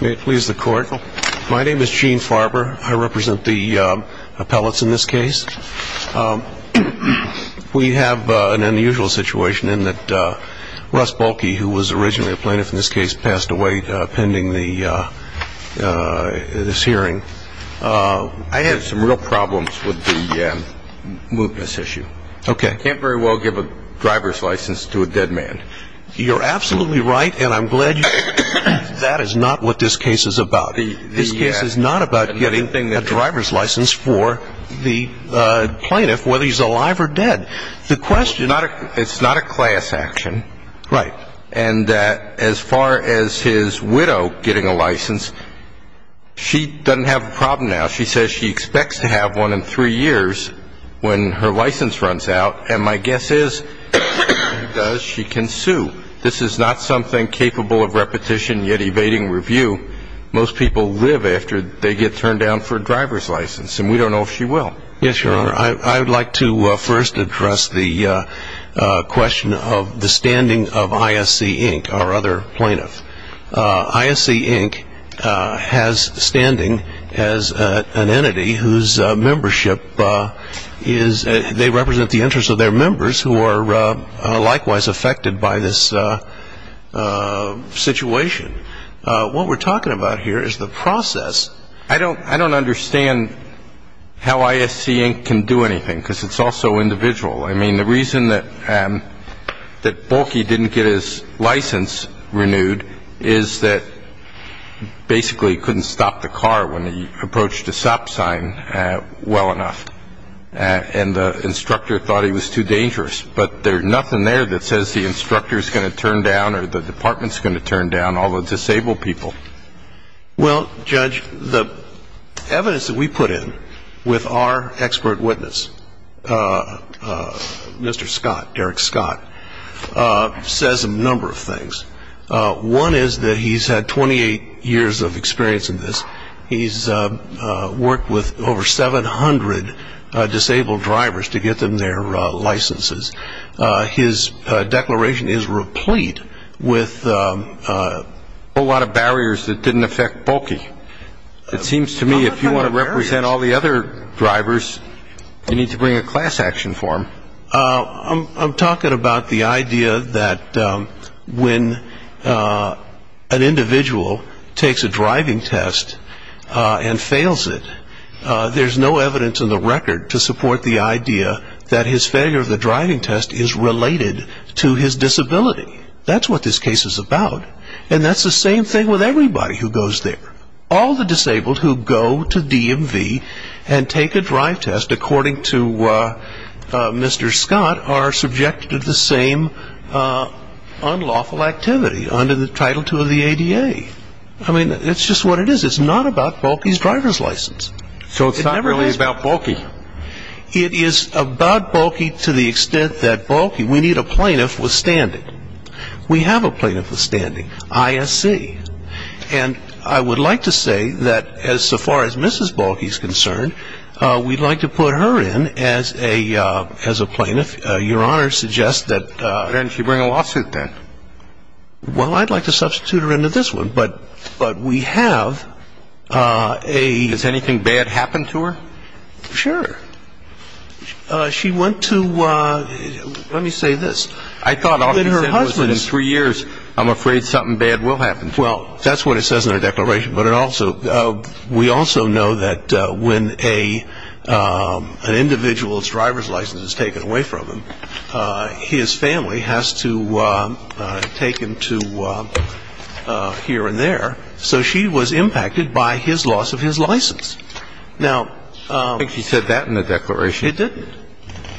May it please the court. My name is Gene Farber. I represent the appellates in this case. We have an unusual situation in that Russ Bohlke, who was originally a plaintiff in this case, passed away pending this hearing. I have some real problems with the mootness issue. Okay. I can't very well give a driver's license to a dead man. You're absolutely right, and I'm glad you said that. That is not what this case is about. This case is not about getting a driver's license for the plaintiff, whether he's alive or dead. It's not a class action. Right. And as far as his widow getting a license, she doesn't have a problem now. She says she expects to have one in three years when her license runs out, and my guess is if she does, she can sue. This is not something capable of repetition yet evading review. Most people live after they get turned down for a driver's license, and we don't know if she will. Yes, Your Honor. I would like to first address the question of the standing of ISC, Inc., our other plaintiff. ISC, Inc. has standing as an entity whose membership is they represent the interests of their members who are likewise affected by this situation. What we're talking about here is the process. I don't understand how ISC, Inc. can do anything because it's also individual. I mean, the reason that Bolke didn't get his license renewed is that basically he couldn't stop the car when he approached a stop sign well enough, and the instructor thought he was too dangerous. But there's nothing there that says the instructor's going to turn down or the department's going to turn down all the disabled people. Well, Judge, the evidence that we put in with our expert witness, Mr. Scott, Derek Scott, says a number of things. One is that he's had 28 years of experience in this. He's worked with over 700 disabled drivers to get them their licenses. His declaration is replete with a whole lot of barriers that didn't affect Bolke. It seems to me if you want to represent all the other drivers, you need to bring a class action form. I'm talking about the idea that when an individual takes a driving test and fails it, there's no evidence in the record to support the idea that his failure of the driving test is related to his disability. That's what this case is about. And that's the same thing with everybody who goes there. All the disabled who go to DMV and take a drive test according to Mr. Scott are subjected to the same unlawful activity under Title II of the ADA. I mean, it's just what it is. It's not about Bolke's driver's license. So it's not really about Bolke. It is about Bolke to the extent that Bolke, we need a plaintiff withstanding. We have a plaintiff withstanding, ISC. And I would like to say that as far as Mrs. Bolke is concerned, we'd like to put her in as a plaintiff. Your Honor suggests that ‑‑ Then she bring a lawsuit then. Well, I'd like to substitute her into this one. But we have a ‑‑ Does anything bad happen to her? Sure. She went to ‑‑ let me say this. I thought all she said was in three years, I'm afraid something bad will happen to her. Well, that's what it says in the declaration. But it also ‑‑ we also know that when an individual's driver's license is taken away from them, his family has to take him to here and there. So she was impacted by his loss of his license. Now ‑‑ I don't think she said that in the declaration. It didn't.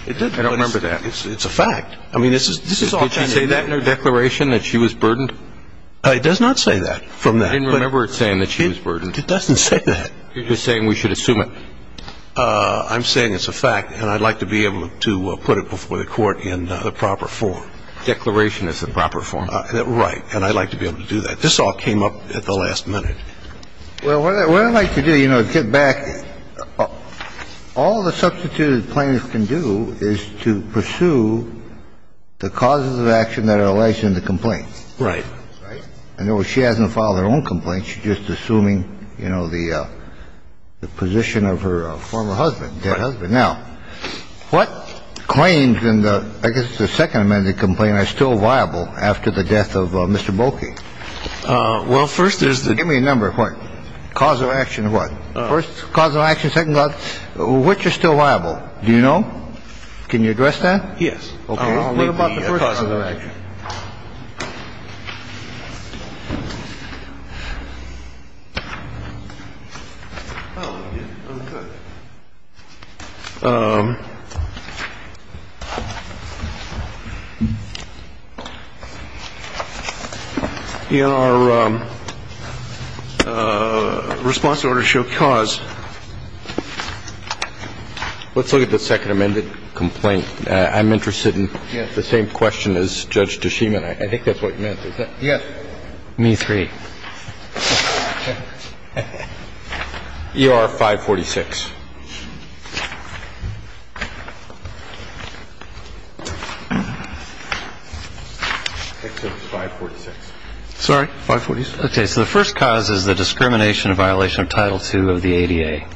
I don't remember that. It's a fact. Could she say that in her declaration, that she was burdened? It does not say that. I didn't remember it saying that she was burdened. It doesn't say that. You're just saying we should assume it. I'm saying it's a fact. And I'd like to be able to put it before the court in the proper form. Declaration is the proper form. Right. And I'd like to be able to do that. This all came up at the last minute. Well, what I'd like to do, you know, to get back, all the substituted plaintiffs can do is to pursue the causes of action that are alleged in the complaint. Right. Right? In other words, she hasn't filed her own complaint. She's just assuming, you know, the position of her former husband, dead husband. Right. Now, what claims in the ‑‑ I guess the second amended complaint are still viable after the death of Mr. Bolke? Well, first there's the ‑‑ Give me a number of points. Cause of action of what? First, cause of action. Second, which are still viable? Do you know? Can you address that? Yes. Okay. First, cause of action. What about the first cause of action? Oh, yeah. Okay. Your response in order to show cause. Let's look at the second amended complaint. I'm interested in the same question as Judge Deschemin. I think that's what you meant. Yes. Me three. E.R. 546. I think it was 546. Sorry? 546. Okay. So the first cause is the discrimination and violation of Title II of the ADA.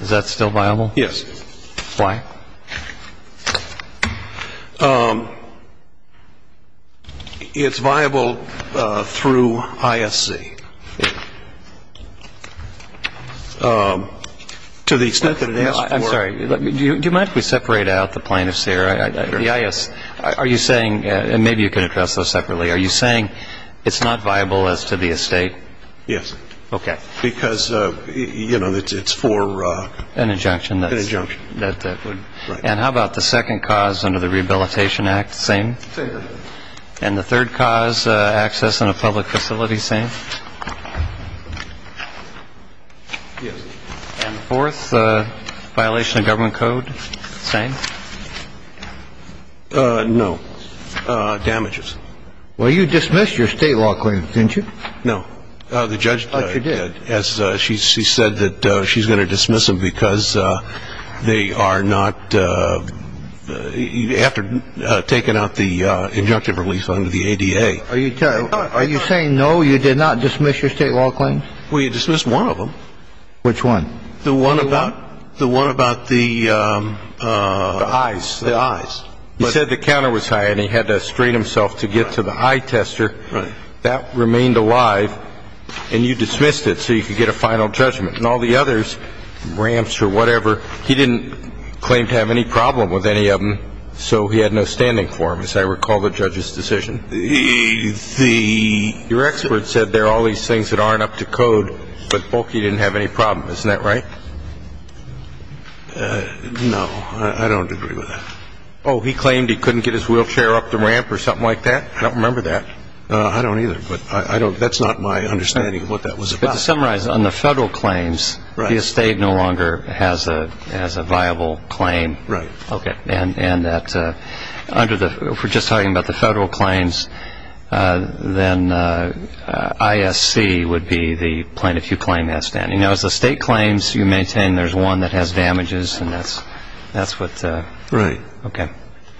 Is that still viable? Yes. Why? It's viable through ISC. To the extent that it asks for ‑‑ I'm sorry. Do you mind if we separate out the plaintiffs here? The IS ‑‑ are you saying, and maybe you can address those separately, are you saying it's not viable as to the estate? Yes. Okay. Because, you know, it's for ‑‑ An injunction. An injunction. And how about the second cause under the Rehabilitation Act? Same? Same. And the third cause, access in a public facility? Same? Yes. And the fourth, violation of government code? Same? No. Damages. Well, you dismissed your state law claims, didn't you? No. The judge, as she said, said that she's going to dismiss them because they are not, after taking out the injunctive relief under the ADA. Are you saying, no, you did not dismiss your state law claims? Well, you dismissed one of them. Which one? The one about the ‑‑ The eyes. The eyes. He said the counter was high, and he had to strain himself to get to the eye tester. That remained alive, and you dismissed it so you could get a final judgment. And all the others, ramps or whatever, he didn't claim to have any problem with any of them, so he had no standing for them, as I recall the judge's decision. The ‑‑ Your expert said there are all these things that aren't up to code, but Bolke didn't have any problem. Isn't that right? No. I don't agree with that. Oh, he claimed he couldn't get his wheelchair up the ramp or something like that? I don't remember that. I don't either. That's not my understanding of what that was about. To summarize, on the federal claims, the estate no longer has a viable claim. Right. Okay. And that under the ‑‑ if we're just talking about the federal claims, then ISC would be the plaintiff you claim has standing. Now, as the state claims, you maintain there's one that has damages, and that's what ‑‑ Right. Okay.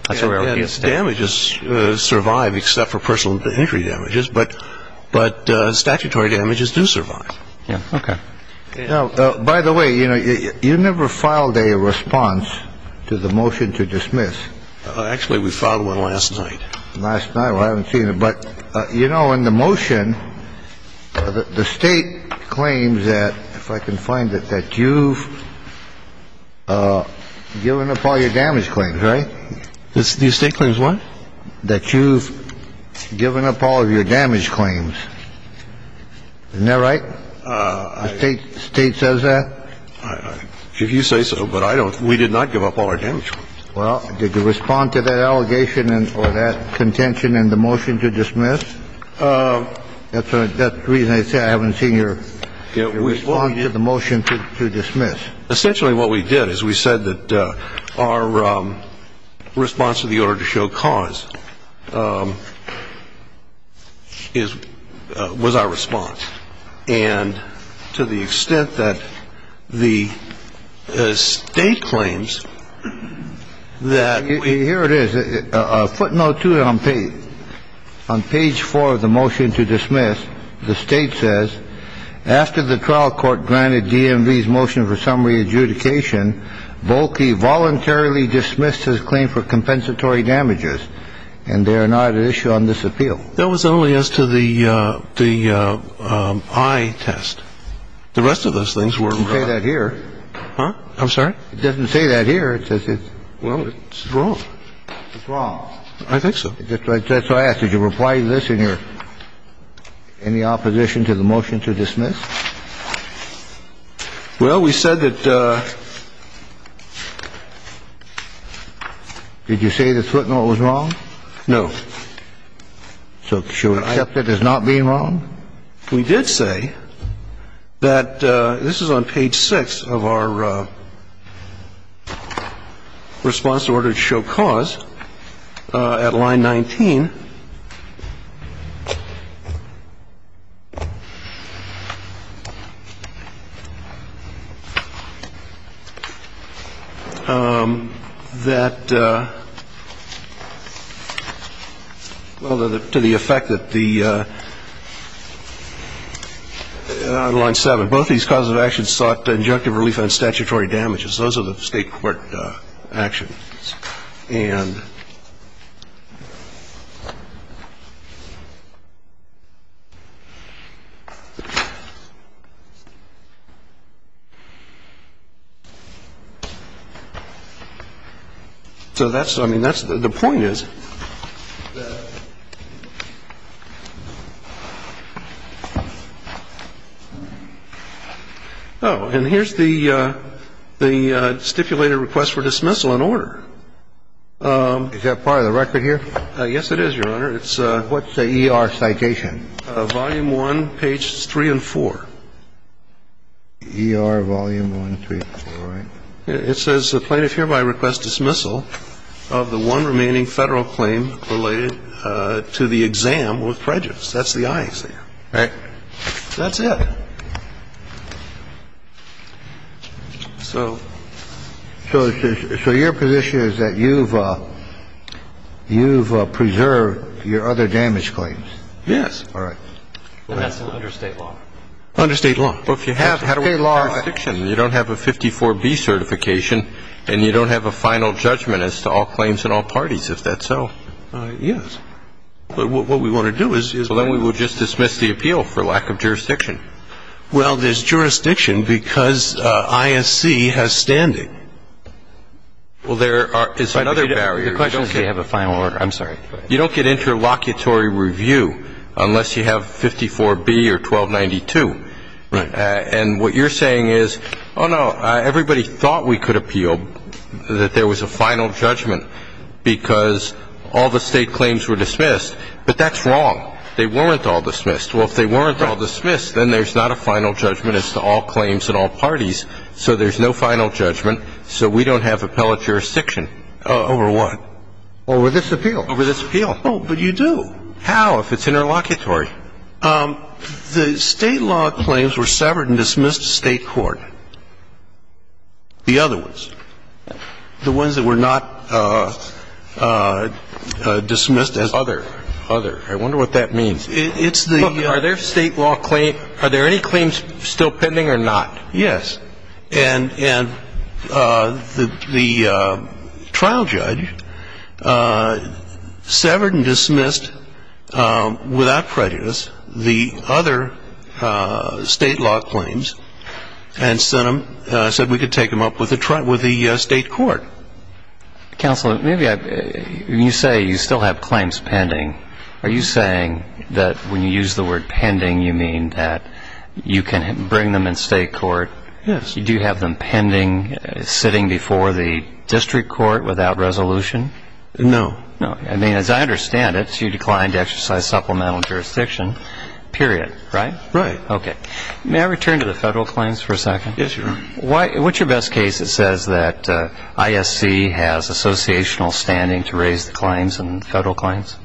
Damages survive except for personal injury damages, but statutory damages do survive. Okay. By the way, you never filed a response to the motion to dismiss. Actually, we filed one last night. Last night. Well, I haven't seen it. But, you know, in the motion, the state claims that, if I can find it, that you've given up all your damage claims, right? The state claims what? That you've given up all of your damage claims. Isn't that right? The state says that? If you say so, but I don't ‑‑ we did not give up all our damage claims. Well, did you respond to that allegation or that contention in the motion to dismiss? That's the reason I say I haven't seen your response to the motion to dismiss. Essentially what we did is we said that our response to the order to show cause is ‑‑ was our response. And to the extent that the state claims that ‑‑ Here it is. Footnote 2 on page 4 of the motion to dismiss. The state says, after the trial court granted DMV's motion for summary adjudication, Volke voluntarily dismissed his claim for compensatory damages, and they are not at issue on this appeal. That was only as to the eye test. The rest of those things were ‑‑ It doesn't say that here. I'm sorry? It doesn't say that here. It says it's ‑‑ Well, it's wrong. It's wrong. I think so. That's why I asked. Did you reply to this in your ‑‑ in the opposition to the motion to dismiss? Well, we said that ‑‑ Did you say that footnote was wrong? No. So should we accept it as not being wrong? We did say that ‑‑ this is on page 6 of our response to order to show cause at line 19. That, well, to the effect that the ‑‑ On line 7, both these causes of action sought injunctive relief on statutory damages. Those are the state court actions. And so that's ‑‑ I mean, that's ‑‑ the point is that ‑‑ Oh, and here's the stipulated request for dismissal in order. Is that part of the record here? Yes, it is, Your Honor. It's ‑‑ What's the ER citation? Volume 1, pages 3 and 4. ER volume 1, 3 and 4, right? It says the plaintiff hereby requests dismissal of the one remaining federal claim related to the exam with prejudice. That's the eye exam. Right. That's it. So ‑‑ So your position is that you've preserved your other damage claims? Yes. All right. And that's under state law. Under state law. Well, if you have ‑‑ Under state law. You don't have a 54B certification and you don't have a final judgment as to all claims in all parties, if that's so. Yes. But what we want to do is ‑‑ Well, then we will just dismiss the appeal for lack of jurisdiction. Well, there's jurisdiction because ISC has standing. Well, there are ‑‑ It's another barrier. You don't have a final order. I'm sorry. You don't get interlocutory review unless you have 54B or 1292. Right. And what you're saying is, oh, no, everybody thought we could appeal, that there was a final judgment, because all the state claims were dismissed, but that's wrong. They weren't all dismissed. Well, if they weren't all dismissed, then there's not a final judgment as to all claims in all parties, so there's no final judgment, so we don't have appellate jurisdiction. Over what? Over this appeal. Over this appeal. Oh, but you do. How, if it's interlocutory? The state law claims were severed and dismissed to state court. The other ones. The ones that were not dismissed as other. Other. I wonder what that means. It's the ‑‑ Look, are there state law ‑‑ are there any claims still pending or not? Yes. And the trial judge severed and dismissed without prejudice the other state law claims and said we could take them up with the state court. Counsel, maybe you say you still have claims pending. Are you saying that when you use the word pending, you mean that you can bring them in state court? Yes. Do you have them pending, sitting before the district court without resolution? No. No. I mean, as I understand it, you declined to exercise supplemental jurisdiction, period, right? Right. Okay. May I return to the federal claims for a second? Yes, Your Honor. What's your best case that says that ISC has associational standing to raise the claims in federal claims?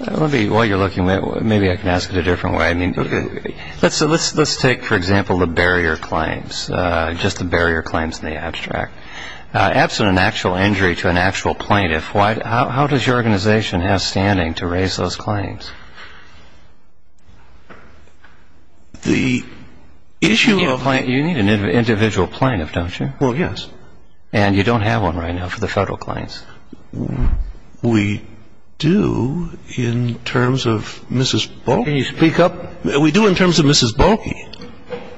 Let me ‑‑ while you're looking, maybe I can ask it a different way. Let's take, for example, the barrier claims, just the barrier claims in the abstract. Absent an actual injury to an actual plaintiff, how does your organization have standing to raise those claims? The issue of ‑‑ You need an individual plaintiff, don't you? Well, yes. And you don't have one right now for the federal claims? We do in terms of Mrs. Bowman. Can you speak up? We do in terms of Mrs. Boeke.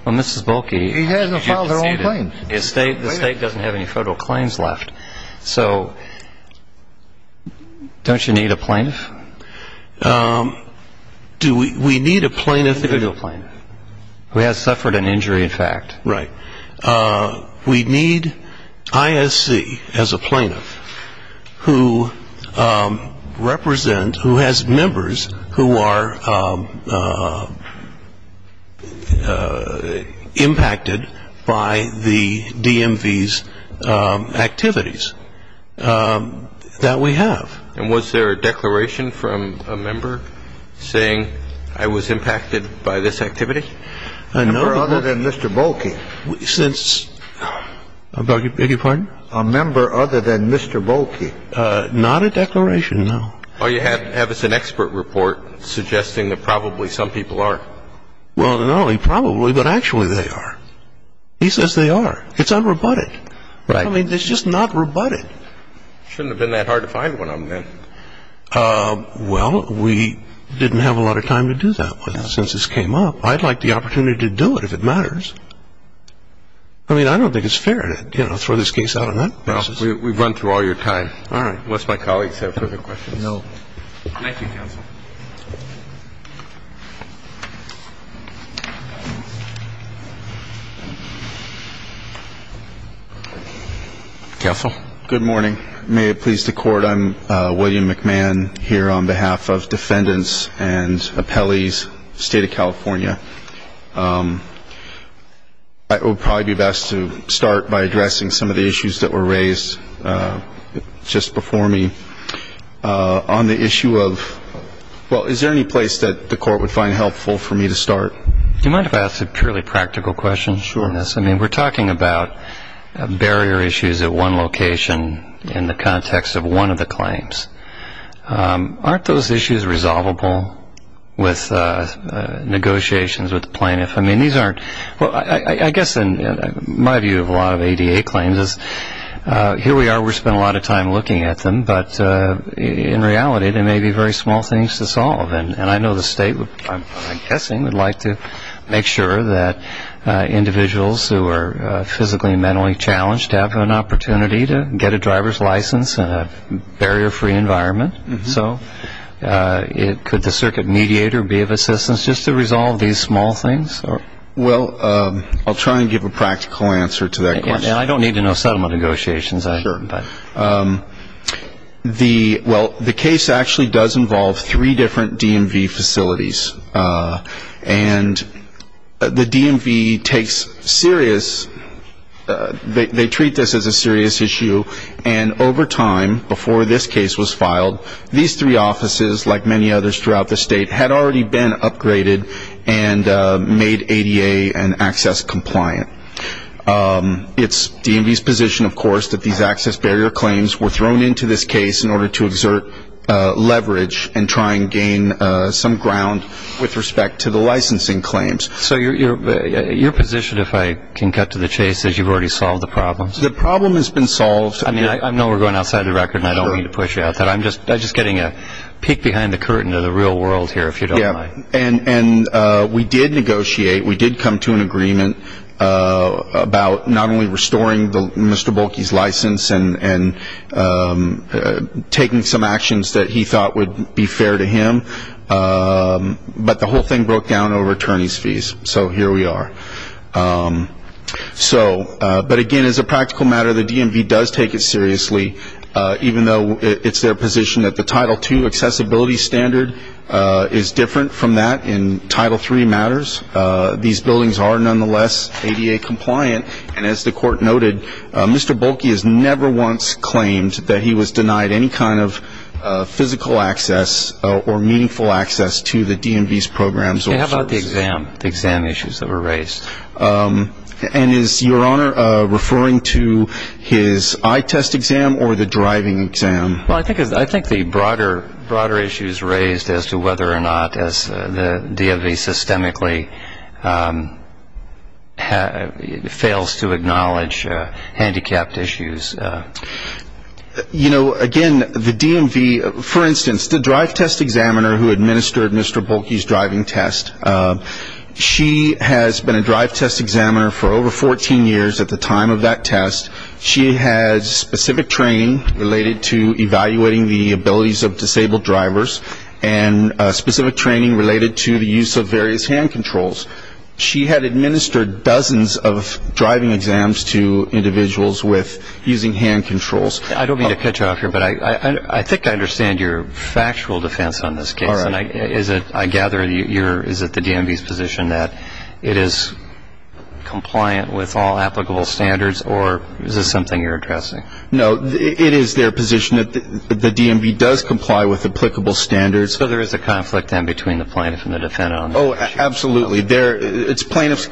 Well, Mrs. Boeke has filed her own claims. The state doesn't have any federal claims left. So don't you need a plaintiff? Do we need a plaintiff? An individual plaintiff who has suffered an injury, in fact. Right. We need ISC as a plaintiff who represent, who has members who are impacted by the DMV's activities that we have. And was there a declaration from a member saying, I was impacted by this activity? A member other than Mr. Boeke. Since ‑‑ I beg your pardon? A member other than Mr. Boeke. Not a declaration, no. Or you have as an expert report suggesting that probably some people are. Well, not only probably, but actually they are. He says they are. It's unrebutted. Right. I mean, it's just not rebutted. Shouldn't have been that hard to find one of them, then. Well, we didn't have a lot of time to do that since this came up. So I'd like the opportunity to do it if it matters. I mean, I don't think it's fair to throw this case out on that basis. Well, we've run through all your time. All right. Unless my colleagues have further questions. No. Thank you, counsel. Counsel. Good morning. I'm William McMahon here on behalf of defendants and appellees, State of California. It would probably be best to start by addressing some of the issues that were raised just before me. On the issue of ‑‑ well, is there any place that the court would find helpful for me to start? Do you mind if I ask a purely practical question? Sure. I mean, we're talking about barrier issues at one location in the context of one of the claims. Aren't those issues resolvable with negotiations with the plaintiff? I mean, these aren't ‑‑ well, I guess in my view of a lot of ADA claims is here we are. We're spending a lot of time looking at them. But in reality, they may be very small things to solve. And I know the state, I'm guessing, would like to make sure that individuals who are physically and mentally challenged have an opportunity to get a driver's license in a barrier‑free environment. So could the circuit mediator be of assistance just to resolve these small things? Well, I'll try and give a practical answer to that question. And I don't need to know settlement negotiations. Sure. The ‑‑ well, the case actually does involve three different DMV facilities. And the DMV takes serious ‑‑ they treat this as a serious issue. And over time, before this case was filed, these three offices, like many others throughout the state, had already been upgraded and made ADA and access compliant. It's DMV's position, of course, that these access barrier claims were thrown into this case in order to exert leverage and try and gain some ground with respect to the licensing claims. So your position, if I can cut to the chase, is you've already solved the problem? The problem has been solved. I mean, I know we're going outside the record, and I don't mean to push you out of that. I'm just getting a peek behind the curtain of the real world here, if you don't mind. And we did negotiate. We did come to an agreement about not only restoring Mr. Bolke's license and taking some actions that he thought would be fair to him, but the whole thing broke down over attorneys' fees. So here we are. But, again, as a practical matter, the DMV does take it seriously, even though it's their position that the Title II accessibility standard is different from that in Title III matters. These buildings are, nonetheless, ADA compliant. And as the court noted, Mr. Bolke has never once claimed that he was denied any kind of physical access or meaningful access to the DMV's programs or services. How about the exam, the exam issues that were raised? And is Your Honor referring to his eye test exam or the driving exam? Well, I think the broader issues raised as to whether or not the DMV systemically fails to acknowledge handicapped issues. You know, again, the DMV, for instance, the drive test examiner who administered Mr. Bolke's driving test, she has been a drive test examiner for over 14 years at the time of that test. She has specific training related to evaluating the abilities of disabled drivers and specific training related to the use of various hand controls. She had administered dozens of driving exams to individuals with using hand controls. I don't mean to cut you off here, but I think I understand your factual defense on this case. And I gather is it the DMV's position that it is compliant with all applicable standards, or is this something you're addressing? No, it is their position that the DMV does comply with applicable standards. So there is a conflict then between the plaintiff and the defendant on this issue? Oh, absolutely. It's plaintiff's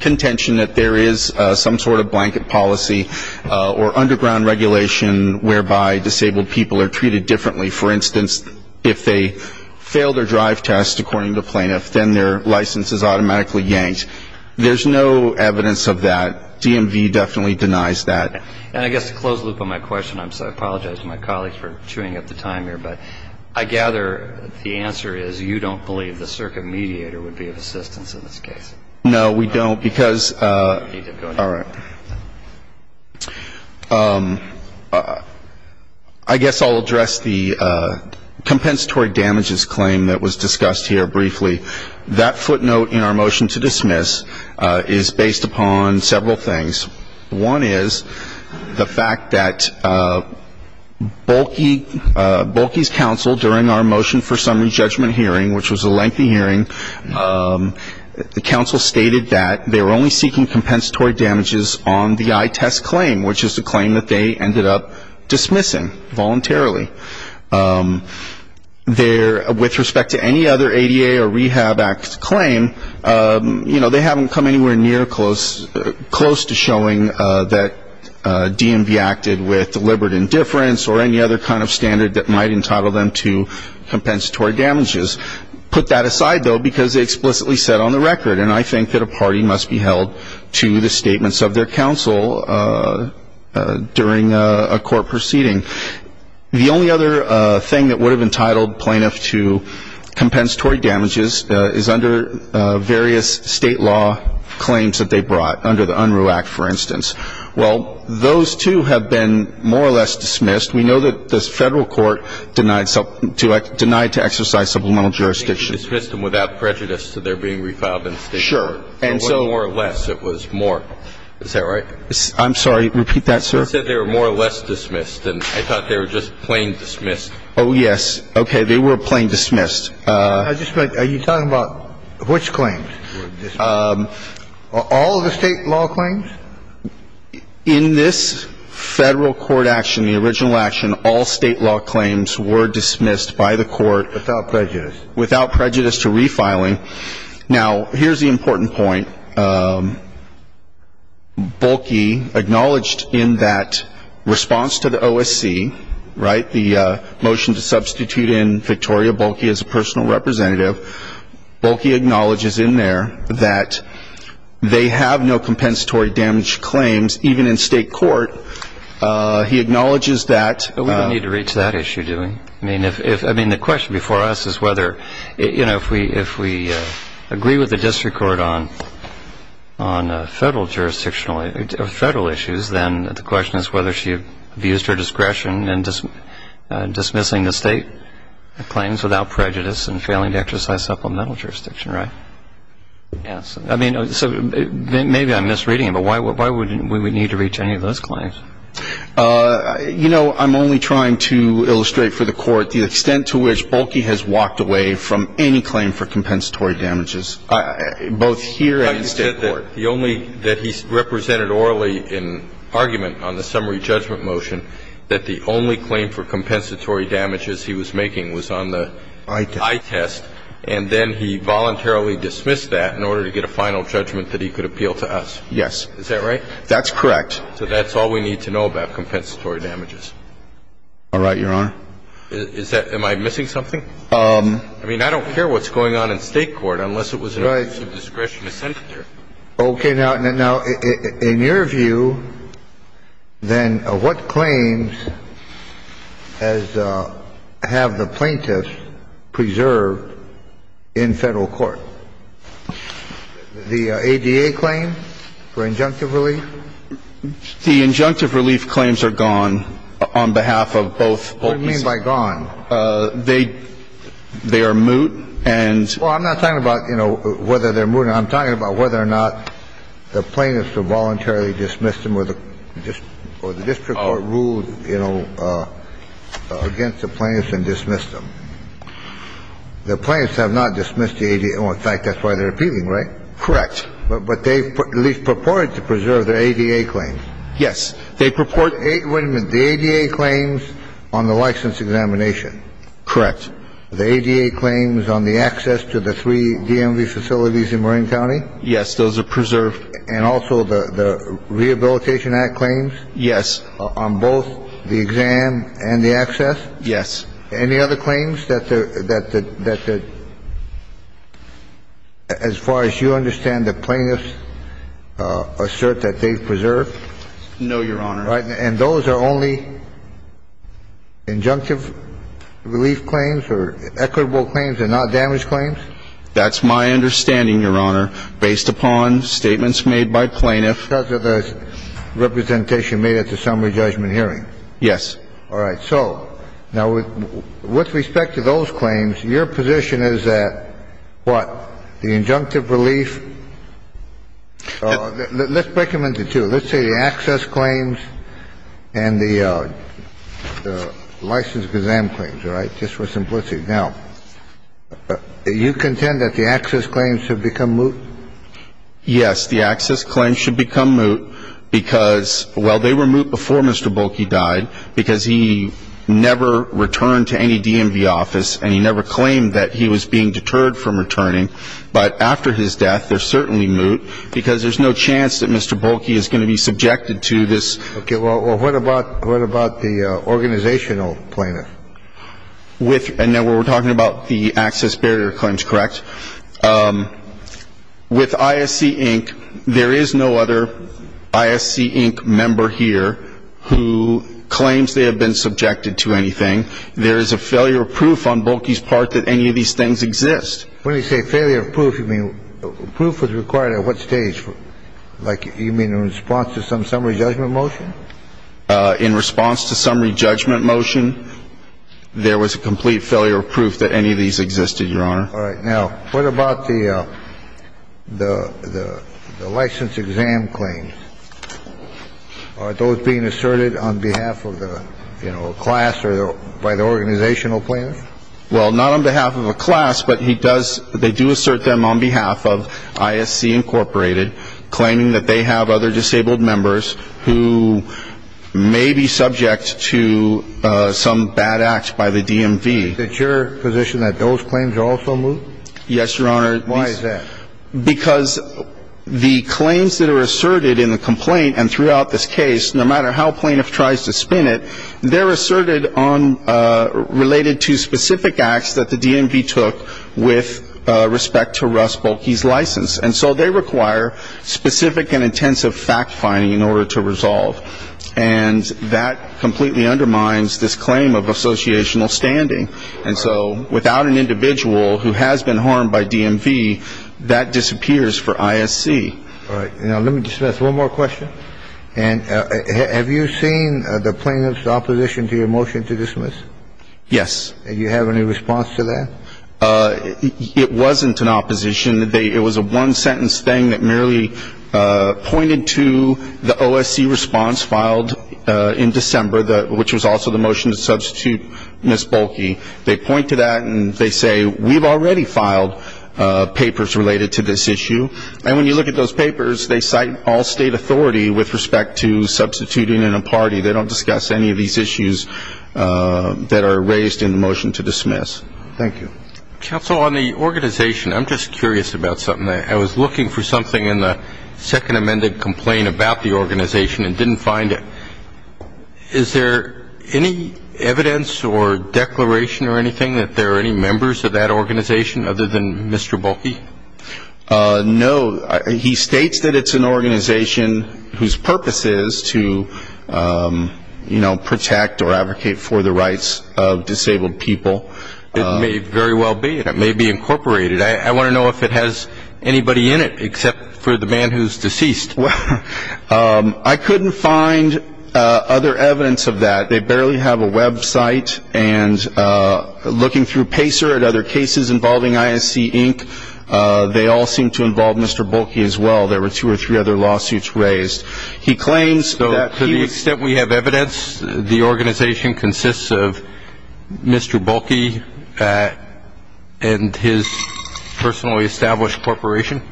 contention that there is some sort of blanket policy or underground regulation whereby disabled people are treated differently. For instance, if they fail their drive test, according to plaintiff, then their license is automatically yanked. There's no evidence of that. DMV definitely denies that. And I guess to close the loop on my question, I apologize to my colleagues for chewing up the time here, but I gather the answer is you don't believe the circuit mediator would be of assistance in this case. All right. I guess I'll address the compensatory damages claim that was discussed here briefly. That footnote in our motion to dismiss is based upon several things. One is the fact that Bulky's counsel during our motion for summary judgment hearing, which was a lengthy hearing, the counsel stated that they were only seeking compensatory damages on the eye test claim, which is the claim that they ended up dismissing voluntarily. With respect to any other ADA or Rehab Act claim, you know, they haven't come anywhere near close to showing that DMV acted with deliberate indifference or any other kind of standard that might entitle them to compensatory damages. Put that aside, though, because they explicitly said on the record, and I think that a party must be held to the statements of their counsel during a court proceeding. The only other thing that would have entitled plaintiff to compensatory damages is under various state law claims that they brought, under the Unruh Act, for instance. Well, those, too, have been more or less dismissed. We know that the Federal court denied to exercise supplemental jurisdiction. They dismissed them without prejudice, so they're being refiled in the State court. Sure. And so more or less, it was more. Is that right? I'm sorry. Repeat that, sir. You said they were more or less dismissed, and I thought they were just plain dismissed. Oh, yes. They were plain dismissed. Are you talking about which claims? All of the State law claims? In this Federal court action, the original action, all State law claims were dismissed by the court. Without prejudice. Without prejudice to refiling. Now, here's the important point. Bulkey acknowledged in that response to the OSC, right, the motion to substitute in Victoria Bulkey as a personal representative, Bulkey acknowledges in there that they have no compensatory damage claims, even in State court. He acknowledges that. We don't need to reach that issue, do we? I mean, the question before us is whether, you know, if we agree with the District Court on Federal issues, then the question is whether she abused her discretion in dismissing the State claims without prejudice and failing to exercise supplemental jurisdiction. Right? Yes. I mean, so maybe I'm misreading it, but why would we need to reach any of those claims? You know, I'm only trying to illustrate for the Court the extent to which Bulkey has walked away from any claim for compensatory damages, both here and in State court. But the only that he represented orally in argument on the summary judgment motion, that the only claim for compensatory damages he was making was on the eye test, and then he voluntarily dismissed that in order to get a final judgment that he could appeal to us. Yes. Is that right? That's correct. So that's all we need to know about compensatory damages. All right, Your Honor. Is that am I missing something? I mean, I don't care what's going on in State court unless it was an issue of discretion to send it there. Okay. Now, in your view, then, what claims have the plaintiffs preserved in Federal court? The ADA claim for injunctive relief? The injunctive relief claims are gone on behalf of both Bulkeys. What do you mean by gone? They are moot, and so on. I'm not talking about, you know, whether they're moot. I'm talking about whether or not the plaintiffs have voluntarily dismissed them or the district court ruled, you know, against the plaintiffs and dismissed them. The plaintiffs have not dismissed the ADA. In fact, that's why they're appealing, right? Correct. But they at least purported to preserve their ADA claims. Yes. They purported to preserve their ADA claims on the license examination. Correct. Now, in your view, then, what claims have the plaintiffs preserved in Federal court? The ADA claims on the access to the three DMV facilities in Marin County? Yes. Those are preserved. And also the Rehabilitation Act claims? Yes. On both the exam and the access? Yes. Any other claims that, as far as you understand, the plaintiffs assert that they've preserved? No, Your Honor. And those are only injunctive relief claims or equitable claims and not damage claims? That's my understanding, Your Honor, based upon statements made by plaintiffs. Because of the representation made at the summary judgment hearing? Yes. All right. So now, with respect to those claims, your position is that what? The injunctive relief? Let's break them into two. Let's say the access claims and the license exam claims, all right, just for simplicity. Now, you contend that the access claims have become moot? Yes. The access claims should become moot because, well, they were moot before Mr. Bolke died because he never returned to any DMV office and he never claimed that he was being deterred from returning. But after his death, they're certainly moot because there's no chance that Mr. Bolke is going to be subjected to this. Okay. Well, what about the organizational plaintiff? And now we're talking about the access barrier claims, correct? The organizational claims are subject to any of these things. But with ISC, Inc., there is no other ISC, Inc. member here who claims they have been subjected to anything. There is a failure of proof on Bolke's part that any of these things exist. When you say failure of proof, you mean proof was required at what stage? Like, you mean in response to some summary judgment motion? In response to summary judgment motion, there was a complete failure of proof that any of these existed, Your Honor. All right. Now, what about the license exam claims? Are those being asserted on behalf of the class or by the organizational plan? Well, not on behalf of a class, but they do assert them on behalf of ISC, Inc., meaning that they have other disabled members who may be subject to some bad act by the DMV. Is it your position that those claims are also moved? Yes, Your Honor. Why is that? Because the claims that are asserted in the complaint and throughout this case, no matter how plaintiff tries to spin it, they're asserted on related to specific acts that the DMV took with respect to Russ Bolke's license. And so they require specific and intensive fact-finding in order to resolve. And that completely undermines this claim of associational standing. And so without an individual who has been harmed by DMV, that disappears for ISC. All right. Now, let me just ask one more question. And have you seen the plaintiff's opposition to your motion to dismiss? Yes. Do you have any response to that? It wasn't an opposition. It was a one-sentence thing that merely pointed to the OSC response filed in December, which was also the motion to substitute Ms. Bolke. They point to that and they say, we've already filed papers related to this issue. And when you look at those papers, they cite all state authority with respect to substituting in a party. They don't discuss any of these issues that are raised in the motion to dismiss. Thank you. Counsel, on the organization, I'm just curious about something. I was looking for something in the second amended complaint about the organization and didn't find it. Is there any evidence or declaration or anything that there are any members of that organization other than Mr. Bolke? No. He states that it's an organization whose purpose is to, you know, protect or advocate for the rights of disabled people. It may very well be. It may be incorporated. I want to know if it has anybody in it except for the man who's deceased. I couldn't find other evidence of that. They barely have a website. And looking through Pacer and other cases involving ISC Inc., they all seem to involve Mr. Bolke as well. There were two or three other lawsuits raised. He claims that to the extent we have evidence, the organization consists of Mr. Bolke and his personally established corporation.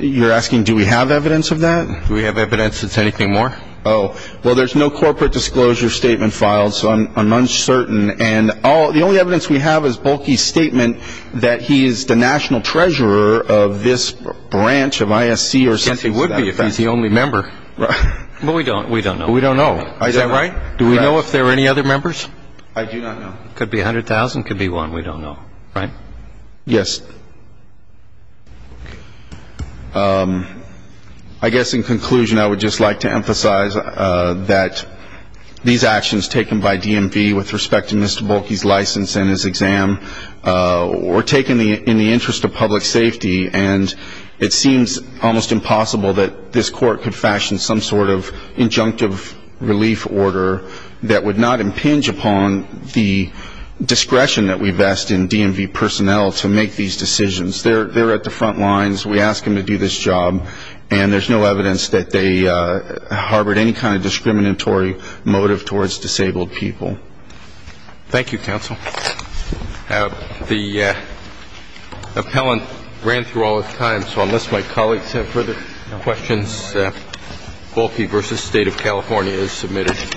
You're asking, do we have evidence of that? Do we have evidence that's anything more? Well, there's no corporate disclosure statement filed, so I'm uncertain. And the only evidence we have is Bolke's statement that he is the national treasurer of this branch of ISC. He would be if he's the only member. But we don't know. We don't know. Is that right? Do we know if there are any other members? I do not know. Could be 100,000. Could be one. We don't know. Right? Yes. I guess in conclusion, I would just like to emphasize that these actions taken by DMV with respect to Mr. Bolke's license and his exam were taken in the interest of public safety, and it seems almost impossible that this court could fashion some sort of injunctive relief order that would not impinge upon the discretion that we vest in DMV personnel to make these decisions. They're at the front lines. We ask them to do this job, and there's no evidence that they harbored any kind of discriminatory motive towards disabled people. Thank you, counsel. The appellant ran through all his time, so unless my colleagues have further questions, Bolke v. State of California is submitted.